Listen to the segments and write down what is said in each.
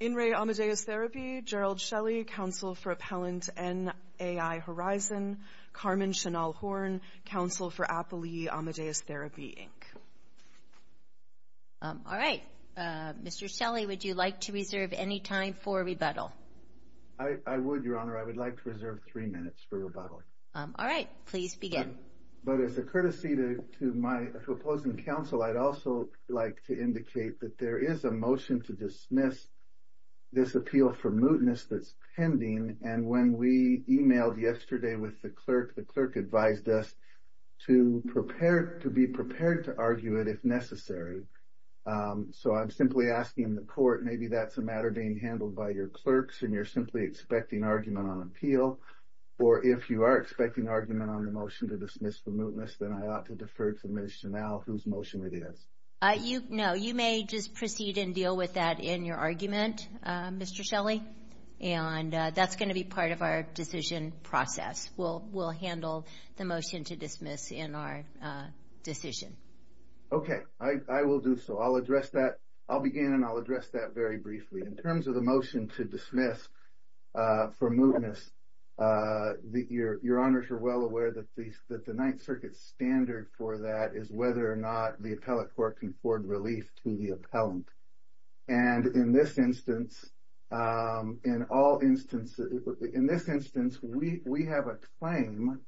In re Amadeus Therapy, Gerald Shelley, counsel for Appellant NAI Horizon, Carmen Chanal Horne, counsel for Appellee Amadeus Therapy, Inc. All right. Mr. Shelley, would you like to reserve any time for rebuttal? I would, Your Honor. I would like to reserve three minutes for rebuttal. All right. Please begin. But as a courtesy to my opposing counsel, I'd also like to indicate that there is a motion to dismiss this appeal for mootness that's pending. And when we emailed yesterday with the clerk, the clerk advised us to be prepared to argue it if necessary. So I'm simply asking the court, maybe that's a matter being handled by your clerks, and you're simply expecting argument on appeal. Or if you are expecting argument on the motion to dismiss the mootness, then I ought to defer to Ms. Chanal, whose motion it is. No. You may just proceed and deal with that in your argument, Mr. Shelley. And that's going to be part of our decision process. We'll handle the motion to dismiss in our decision. Okay. I will do so. I'll address that. I'll begin and I'll address that very briefly. In terms of the motion to dismiss for mootness, Your Honors are well aware that the Ninth Circuit standard for that is whether or not the appellate court can afford relief to the appellant. And in this instance, we have a claim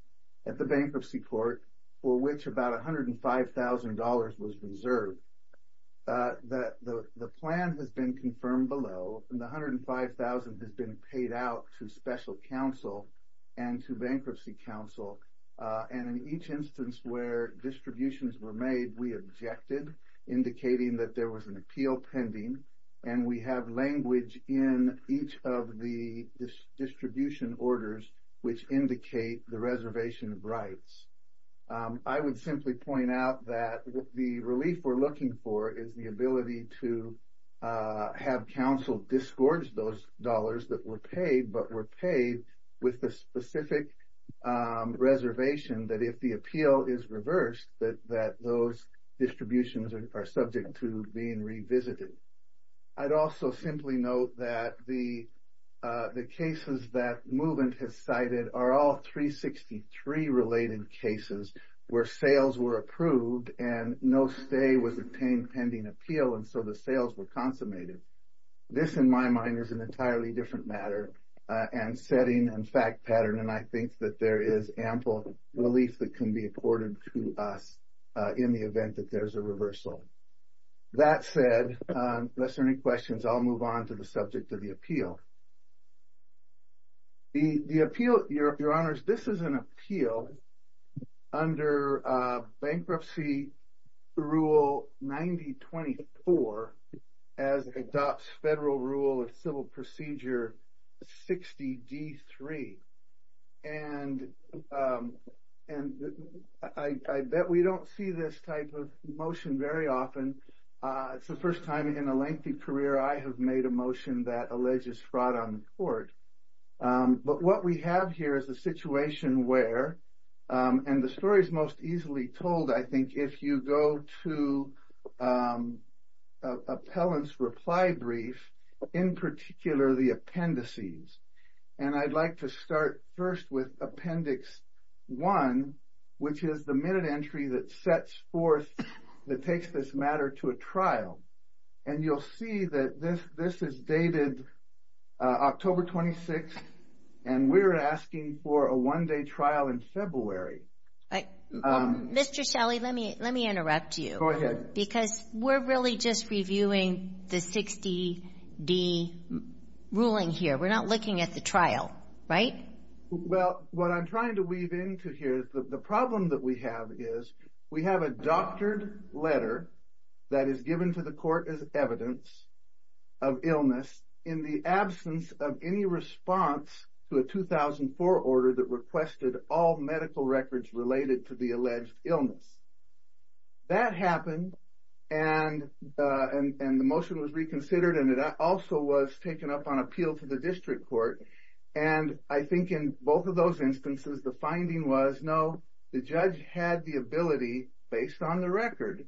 at the bankruptcy court for which about $105,000 was reserved. The plan has been confirmed below, and the $105,000 has been paid out to special counsel and to bankruptcy counsel. And in each instance where distributions were made, we objected, indicating that there was an appeal pending. And we have language in each of the distribution orders which indicate the reservation of rights. I would simply point out that the relief we're looking for is the ability to have counsel disgorge those dollars that were paid, but were paid with the specific reservation that if the appeal is reversed, that those distributions are subject to being revisited. I'd also simply note that the cases that MVMT has cited are all 363-related cases where sales were approved and no stay was obtained pending appeal, and so the sales were consummated. This, in my mind, is an entirely different matter and setting and fact pattern, and I think that there is ample relief that can be afforded to us in the event that there's a reversal. That said, unless there are any questions, I'll move on to the subject of the appeal. Your Honors, this is an appeal under Bankruptcy Rule 90-24 as adopts Federal Rule of Civil Procedure 60-D-3. And I bet we don't see this type of motion very often. It's the first time in a lengthy career I have made a motion that alleges fraud on the court. But what we have here is a situation where, and the story is most easily told, I think, if you go to appellant's reply brief, in particular, the appendices. And I'd like to start first with Appendix 1, which is the minute entry that sets forth, that takes this matter to a trial. And you'll see that this is dated October 26th, and we're asking for a one-day trial in February. Mr. Shelley, let me interrupt you. Because we're really just reviewing the 60-D ruling here. We're not looking at the trial, right? Well, what I'm trying to weave into here, the problem that we have is we have a doctored letter that is given to the court as evidence of illness in the absence of any response to a 2004 order that requested all medical records related to the alleged illness. That happened, and the motion was reconsidered, and it also was taken up on appeal to the district court. And I think in both of those instances, the finding was, no, the judge had the ability, based on the record,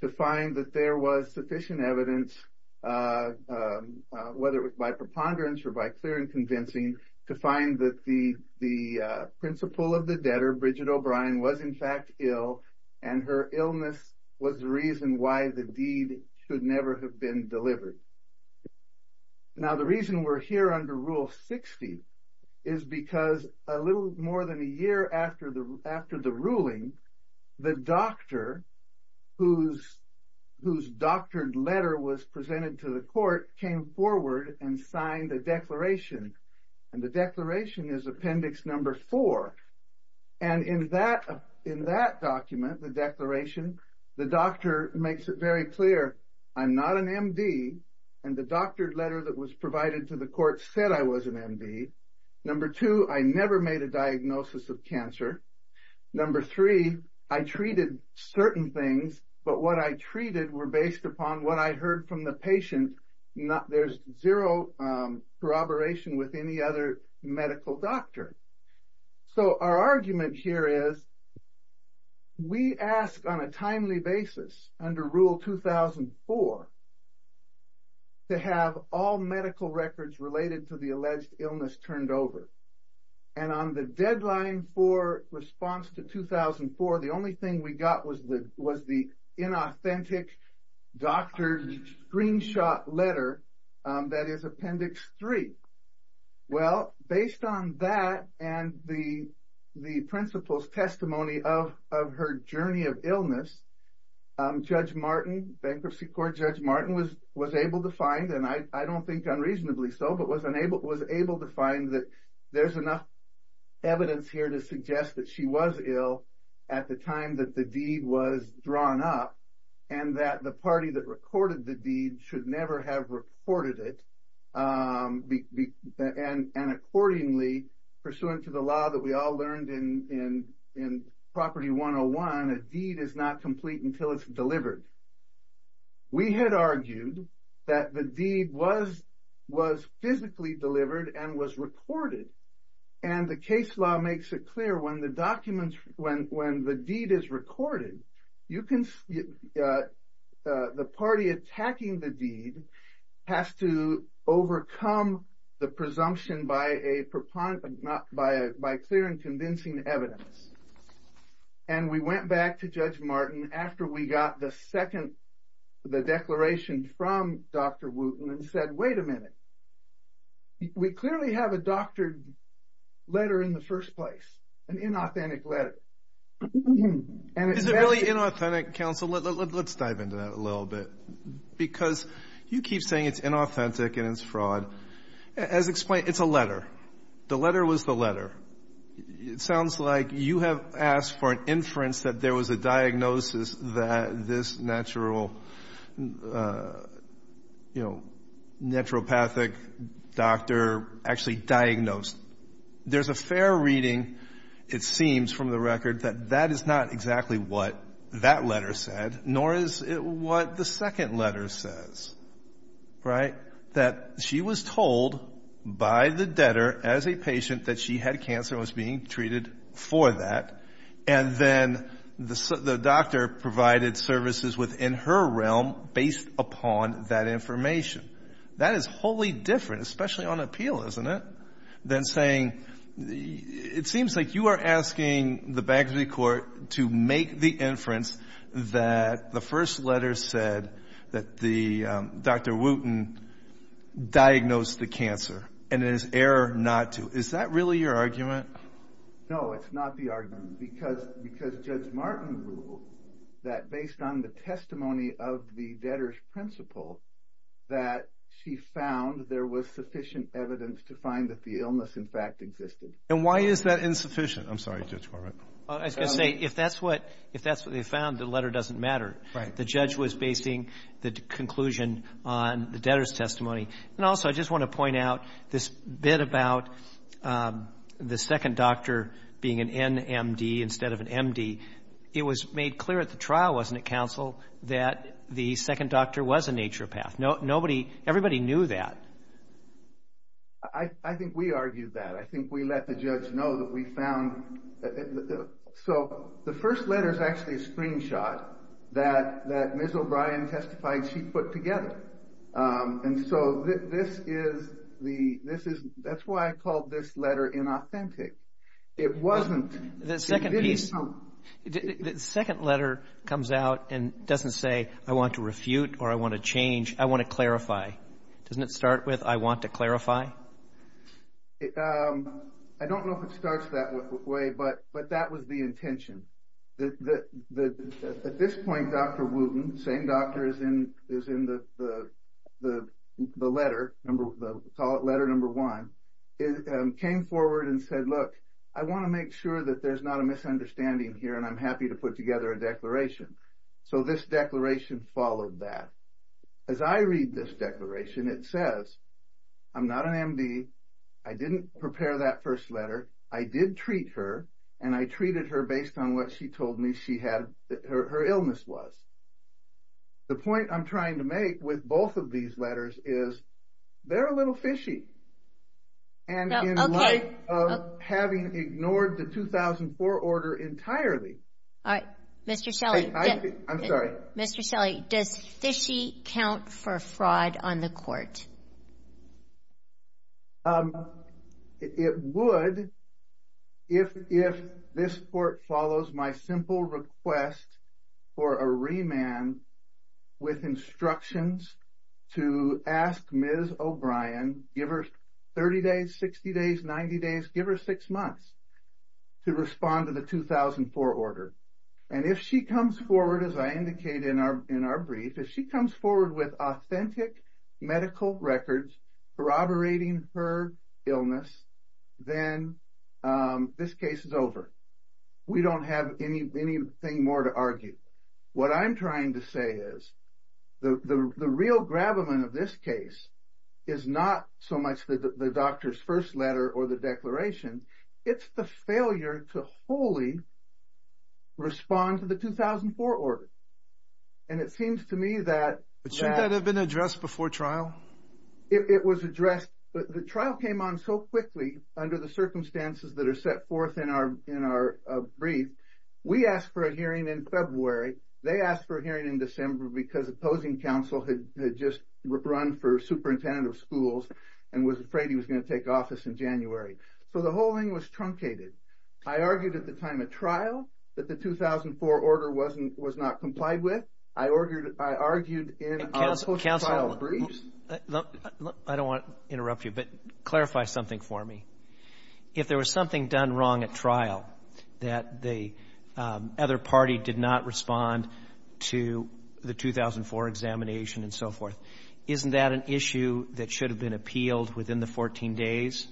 to find that there was sufficient evidence, whether it was by preponderance or by clear and convincing, to find that the principal of the debtor, Bridget O'Brien, was in fact ill, and her illness was the reason why the deed should never have been delivered. Now, the reason we're here under Rule 60 is because a little more than a year after the ruling, the doctor, whose doctored letter was presented to the court, came forward and signed a declaration, and the declaration is Appendix Number 4. And in that document, the declaration, the doctor makes it very clear, I'm not an MD, and the doctored letter that was provided to the court said I was an MD. Number two, I never made a diagnosis of cancer. Number three, I treated certain things, but what I treated were based upon what I heard from the patient. There's zero corroboration with any other medical doctor. So our argument here is, we ask on a timely basis, under Rule 2004, to have all medical records related to the alleged illness turned over. And on the deadline for response to 2004, the only thing we got was the inauthentic doctored screenshot letter that is Appendix 3. Well, based on that and the principal's testimony of her journey of illness, Judge Martin, Bankruptcy Court Judge Martin, was able to find, and I don't think unreasonably so, but was able to find that there's enough evidence here to suggest that she was ill at the time that the deed was drawn up, and that the party that recorded the deed should never have recorded it. And accordingly, pursuant to the law that we all learned in Property 101, a deed is not complete until it's delivered. We had argued that the deed was physically delivered and was recorded, and the case law makes it clear when the deed is recorded, the party attacking the deed has to overcome the presumption by clear and convincing evidence. And we went back to Judge Martin after we got the second, the declaration from Dr. Wooten and said, wait a minute, we clearly have a doctored letter in the first place, an inauthentic letter. Is it really inauthentic, counsel? Let's dive into that a little bit, because you keep saying it's inauthentic and it's fraud. As explained, it's a letter. The letter was the letter. It sounds like you have asked for an inference that there was a diagnosis that this natural, you know, naturopathic doctor actually diagnosed. There's a fair reading, it seems from the record, that that is not exactly what that letter said, nor is it what the second letter says, right? That she was told by the debtor as a patient that she had cancer and was being treated for that, and then the doctor provided services within her realm based upon that information. That is wholly different, especially on appeal, isn't it, than saying it seems like you are asking the Bagsby Court to make the inference that the first letter said that Dr. Wooten diagnosed the cancer and it is error not to. Is that really your argument? No, it's not the argument, because Judge Martin ruled that based on the testimony of the debtor's principal that she found there was sufficient evidence to find that the illness, in fact, existed. And why is that insufficient? I'm sorry, Judge Corwin. I was going to say, if that's what they found, the letter doesn't matter. The judge was basing the conclusion on the debtor's testimony. And also, I just want to point out this bit about the second doctor being an NMD instead of an MD. It was made clear at the trial, wasn't it, counsel, that the second doctor was a naturopath. Everybody knew that. I think we argued that. I think we let the judge know that we found that. So the first letter is actually a screenshot that Ms. O'Brien testified she put together. And so that's why I called this letter inauthentic. It wasn't. The second piece, the second letter comes out and doesn't say, I want to refute or I want to change. I want to clarify. Doesn't it start with, I want to clarify? I don't know if it starts that way, but that was the intention. At this point, Dr. Wooten, same doctor as in the letter, call it letter number one, came forward and said, look, I want to make sure that there's not a misunderstanding here, and I'm happy to put together a declaration. So this declaration followed that. As I read this declaration, it says, I'm not an MD, I didn't prepare that first letter, I did treat her, and I treated her based on what she told me her illness was. The point I'm trying to make with both of these letters is they're a little fishy. And in light of having ignored the 2004 order entirely. All right. Mr. Shelley. I'm sorry. Mr. Shelley, does fishy count for fraud on the court? It would if this court follows my simple request for a remand with instructions to ask Ms. O'Brien, give her 30 days, 60 days, 90 days, give her six months to respond to the 2004 order. And if she comes forward, as I indicated in our brief, if she comes forward with authentic medical records corroborating her illness, then this case is over. We don't have anything more to argue. What I'm trying to say is the real gravamen of this case is not so much the doctor's first letter or the declaration, it's the failure to wholly respond to the 2004 order. And it seems to me that. Shouldn't that have been addressed before trial? It was addressed. The trial came on so quickly under the circumstances that are set forth in our brief. We asked for a hearing in February. They asked for a hearing in December because opposing counsel had just run for superintendent of schools and was afraid he was going to take office in January. So the whole thing was truncated. I argued at the time at trial that the 2004 order was not complied with. I argued in our post-trial briefs. Counsel, I don't want to interrupt you, but clarify something for me. If there was something done wrong at trial that the other party did not respond to the 2004 examination and so forth, isn't that an issue that should have been appealed within the 14 days?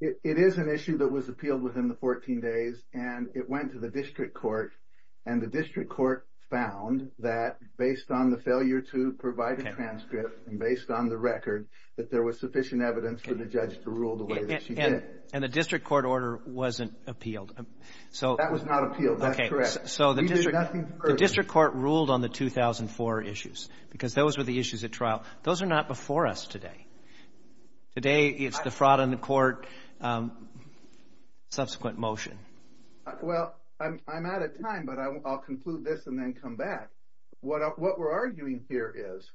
It is an issue that was appealed within the 14 days, and it went to the district court, and the district court found that based on the failure to provide a transcript and based on the record, that there was sufficient evidence for the judge to rule the way that she did. And the district court order wasn't appealed. That was not appealed. That's correct. The district court ruled on the 2004 issues because those were the issues at trial. Those are not before us today. Today it's the fraud on the court, subsequent motion. Well, I'm out of time, but I'll conclude this and then come back. What we're arguing here is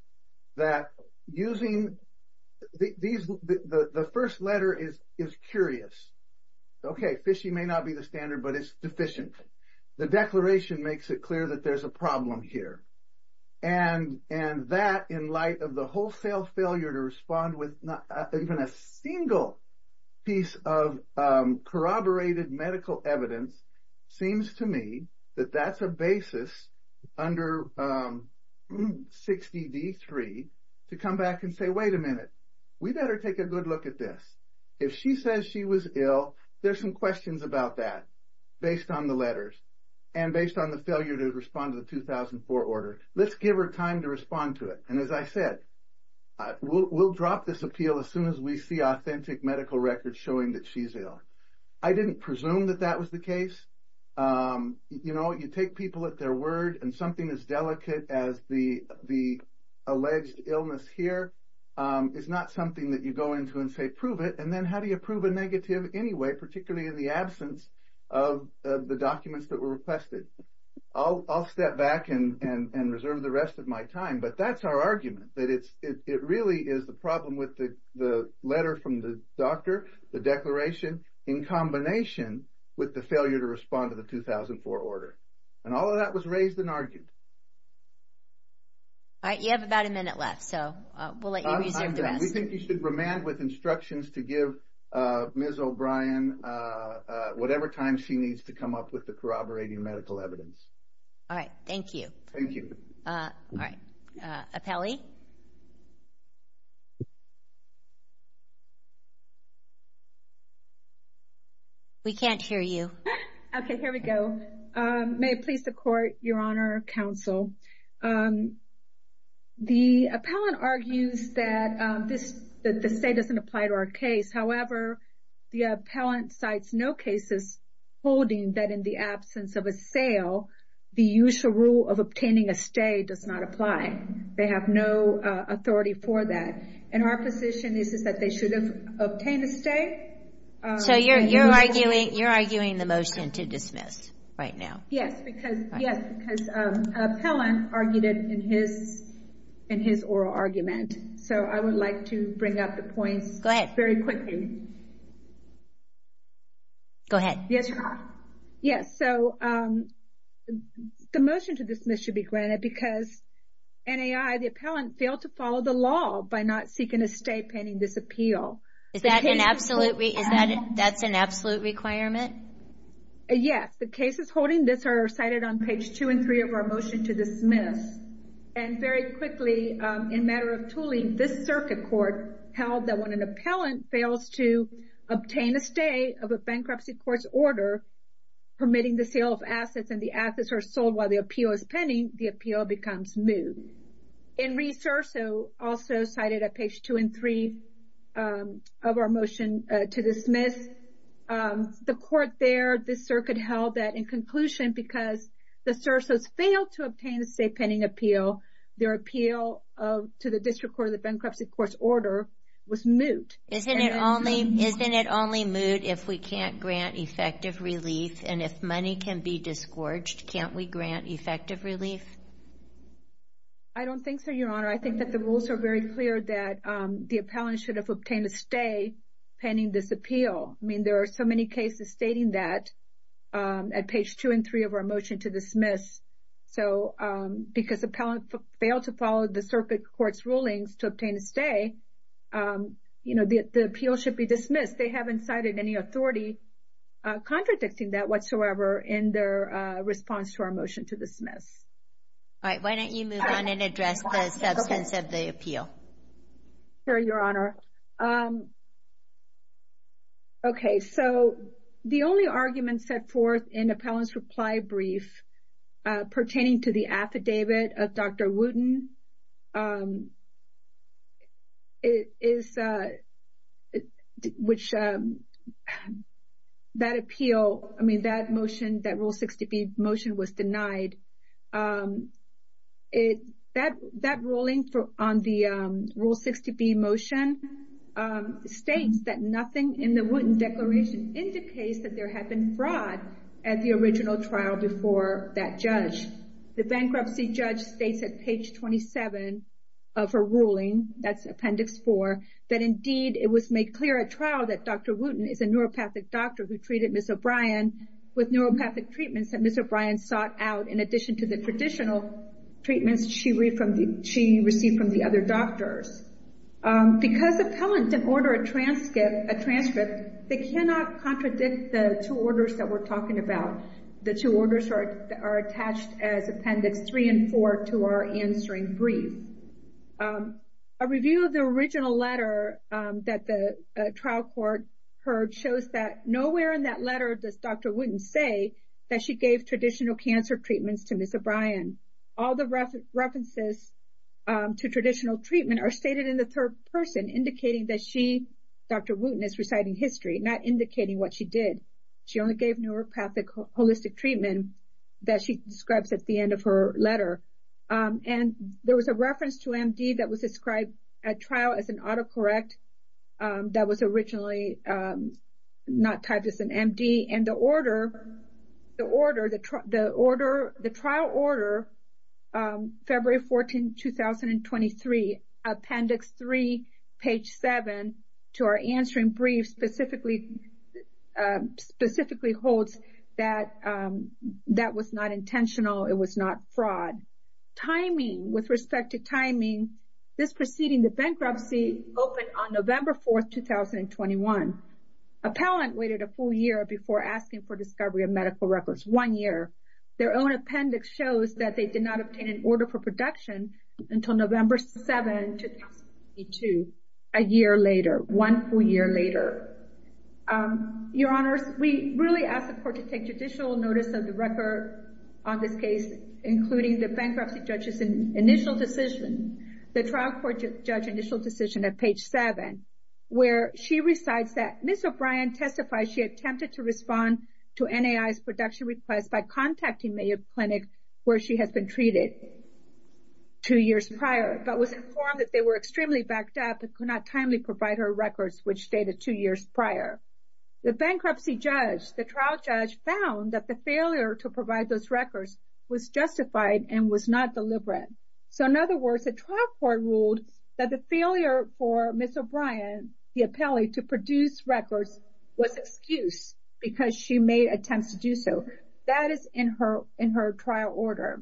that using the first letter is curious. Okay, fishy may not be the standard, but it's sufficient. The declaration makes it clear that there's a problem here. And that, in light of the wholesale failure to respond with even a single piece of corroborated medical evidence, seems to me that that's a basis under 60D3 to come back and say, wait a minute, we better take a good look at this. If she says she was ill, there's some questions about that based on the letters and based on the failure to respond to the 2004 order. Let's give her time to respond to it. And as I said, we'll drop this appeal as soon as we see authentic medical records showing that she's ill. I didn't presume that that was the case. You know, you take people at their word and something as delicate as the alleged illness here is not something that you go into and say prove it. And then how do you prove a negative anyway, particularly in the absence of the documents that were requested? I'll step back and reserve the rest of my time. But that's our argument, that it really is the problem with the letter from the doctor, the declaration, in combination with the failure to respond to the 2004 order. And all of that was raised and argued. All right, you have about a minute left, so we'll let you reserve the rest. We think you should remand with instructions to give Ms. O'Brien whatever time she needs to come up with the corroborating medical evidence. All right, thank you. Thank you. All right. We can't hear you. Okay, here we go. May it please the Court, Your Honor, Counsel. The appellant argues that the stay doesn't apply to our case. However, the appellant cites no cases holding that in the absence of a sale, the usual rule of obtaining a stay does not apply. They have no authority for that. And our position is that they should have obtained a stay. So you're arguing the motion to dismiss right now. Yes, because an appellant argued it in his oral argument. So I would like to bring up the points very quickly. Go ahead. Yes, Your Honor. Yes, so the motion to dismiss should be granted because NAI, the appellant, failed to follow the law by not seeking a stay pending this appeal. That's an absolute requirement? Yes. The cases holding this are cited on page 2 and 3 of our motion to dismiss. And very quickly, in matter of tooling, this circuit court held that when an appellant fails to obtain a stay of a bankruptcy court's order permitting the sale of assets and the assets are sold while the appeal is pending, the appeal becomes moot. And Reese Serso also cited on page 2 and 3 of our motion to dismiss. The court there, this circuit held that in conclusion, because the Serso's failed to obtain a stay pending appeal, their appeal to the district court of the bankruptcy court's order was moot. Isn't it only moot if we can't grant effective relief? And if money can be disgorged, can't we grant effective relief? I don't think so, Your Honor. I think that the rules are very clear that the appellant should have obtained a stay pending this appeal. I mean, there are so many cases stating that at page 2 and 3 of our motion to dismiss. So because appellant failed to follow the circuit court's rulings to obtain a stay, you know, the appeal should be dismissed. They haven't cited any authority contradicting that whatsoever in their response to our motion to dismiss. All right. Why don't you move on and address the substance of the appeal? Sure, Your Honor. Okay. So the only argument set forth in appellant's reply brief pertaining to the affidavit of Dr. Wooten is which that appeal, I mean, that motion, that Rule 60B motion was denied. That ruling on the Rule 60B motion states that nothing in the Wooten declaration indicates that there had been fraud at the original trial before that judge. The bankruptcy judge states at page 27 of her ruling, that's Appendix 4, that indeed it was made clear at trial that Dr. Wooten is a neuropathic doctor who treated Ms. O'Brien with neuropathic treatments that Ms. O'Brien sought out in addition to the traditional treatments she received from the other doctors. Because appellant didn't order a transcript, they cannot contradict the two orders that we're talking about. The two orders are attached as Appendix 3 and 4 to our answering brief. A review of the original letter that the trial court heard shows that nowhere in that letter does Dr. Wooten say that she gave traditional cancer treatments to Ms. O'Brien. All the references to traditional treatment are stated in the third person indicating that she, Dr. Wooten, is reciting history, not indicating what she did. She only gave neuropathic holistic treatment that she describes at the end of her letter. And there was a reference to MD that was described at trial as an autocorrect that was originally not typed as an MD. And the order, the trial order, February 14, 2023, Appendix 3, page 7 to our answering brief specifically holds that that was not intentional. It was not fraud. Timing, with respect to timing, this proceeding, the bankruptcy, opened on November 4, 2021. Appellant waited a full year before asking for discovery of medical records, one year. Their own appendix shows that they did not obtain an order for production until November 7, 2022, a year later, one full year later. Your Honors, we really ask the court to take judicial notice of the record on this case, including the bankruptcy judge's initial decision, the trial court judge initial decision at page 7, where she recites that Ms. O'Brien testified she attempted to respond to NAI's production request by contacting Mayo Clinic, where she has been treated two years prior, but was informed that they were extremely backed up and could not timely provide her records, which stated two years prior. The bankruptcy judge, the trial judge, found that the failure to provide those records was justified and was not deliberate. So, in other words, the trial court ruled that the failure for Ms. O'Brien, the appellee, to produce records was excused because she made attempts to do so. That is in her trial order.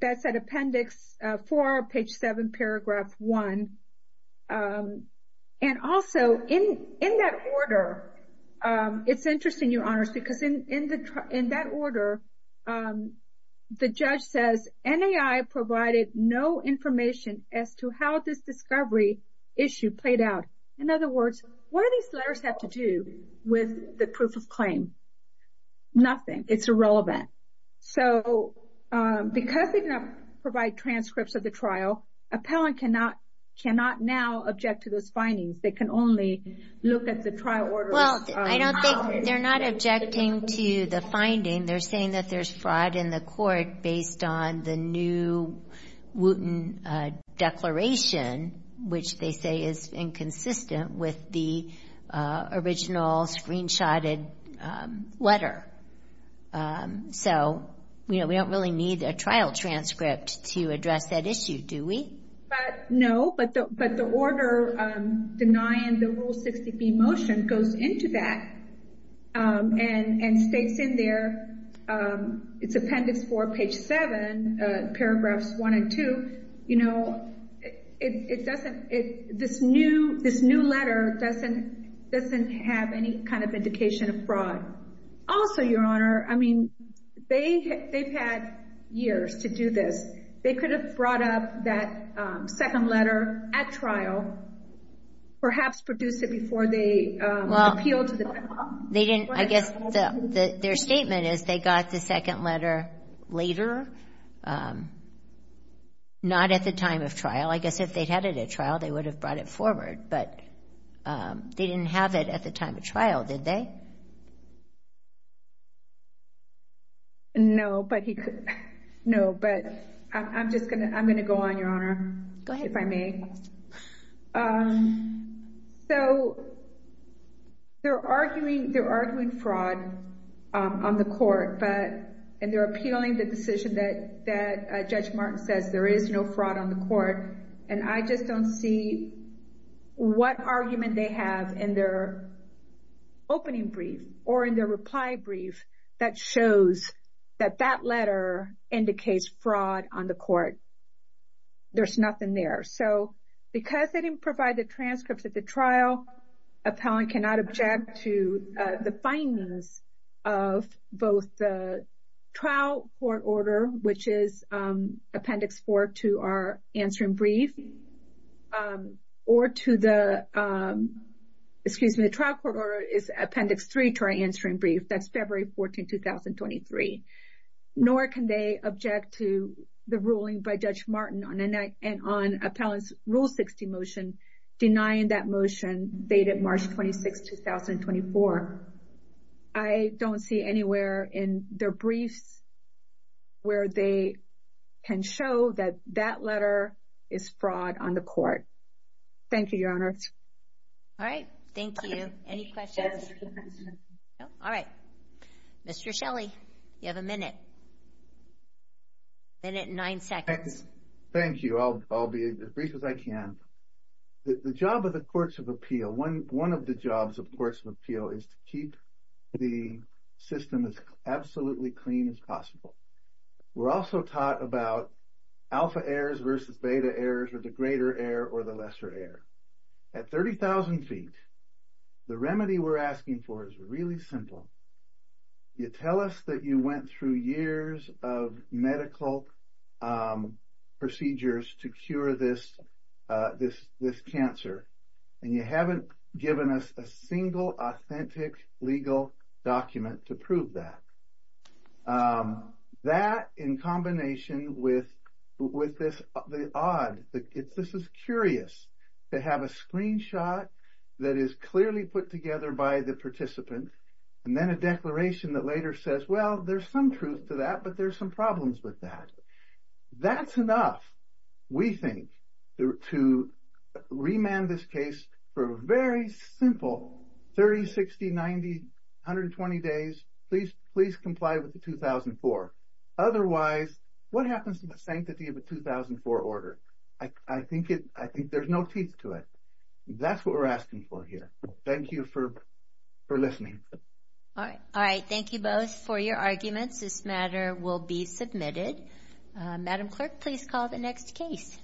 That's at appendix 4, page 7, paragraph 1. And also, in that order, it's interesting, Your Honors, because in that order, the judge says, NAI provided no information as to how this discovery issue played out. In other words, what do these letters have to do with the proof of claim? Nothing. It's irrelevant. So, because they cannot provide transcripts of the trial, appellant cannot now object to those findings. They can only look at the trial order. Well, I don't think they're not objecting to the finding. They're saying that there's fraud in the court based on the new Wooten declaration, which they say is inconsistent with the original screenshotted letter. So, you know, we don't really need a trial transcript to address that issue, do we? No, but the order denying the Rule 60B motion goes into that and states in there, it's appendix 4, page 7, paragraphs 1 and 2, you know, this new letter doesn't have any kind of indication of fraud. Also, Your Honor, I mean, they've had years to do this. They could have brought up that second letter at trial, perhaps produced it before they appealed to the trial. I guess their statement is they got the second letter later, not at the time of trial. I guess if they'd had it at trial, they would have brought it forward. But they didn't have it at the time of trial, did they? No, but he could. No, but I'm just going to go on, Your Honor, if I may. Go ahead. So they're arguing fraud on the court, and they're appealing the decision that Judge Martin says there is no fraud on the court, and I just don't see what argument they have in their opening brief or in their reply brief that shows that that letter indicates fraud on the court. There's nothing there. So because they didn't provide the transcripts at the trial, appellant cannot object to the findings of both the trial court order, which is Appendix 4 to our answering brief, or to the trial court order is Appendix 3 to our answering brief. That's February 14, 2023. Nor can they object to the ruling by Judge Martin on an appellant's Rule 60 motion denying that motion dated March 26, 2024. I don't see anywhere in their briefs where they can show that that letter is fraud on the court. Thank you, Your Honor. All right. Thank you. Any questions? No. All right. Mr. Shelley, you have a minute, a minute and nine seconds. Thank you. I'll be as brief as I can. The job of the Courts of Appeal, one of the jobs of Courts of Appeal is to keep the system as absolutely clean as possible. We're also taught about alpha errors versus beta errors, or the greater error or the lesser error. At 30,000 feet, the remedy we're asking for is really simple. You tell us that you went through years of medical procedures to cure this cancer, and you haven't given us a single authentic legal document to prove that. That, in combination with this odd, this is curious to have a screenshot that is clearly put together by the participant, and then a declaration that later says, well, there's some truth to that, but there's some problems with that. That's enough, we think, to remand this case for a very simple 30, 60, 90, 120 days, please comply with the 2004. Otherwise, what happens to the sanctity of a 2004 order? I think there's no teeth to it. That's what we're asking for here. Thank you for listening. All right. Thank you both for your arguments. This matter will be submitted. Madam Clerk, please call the next case.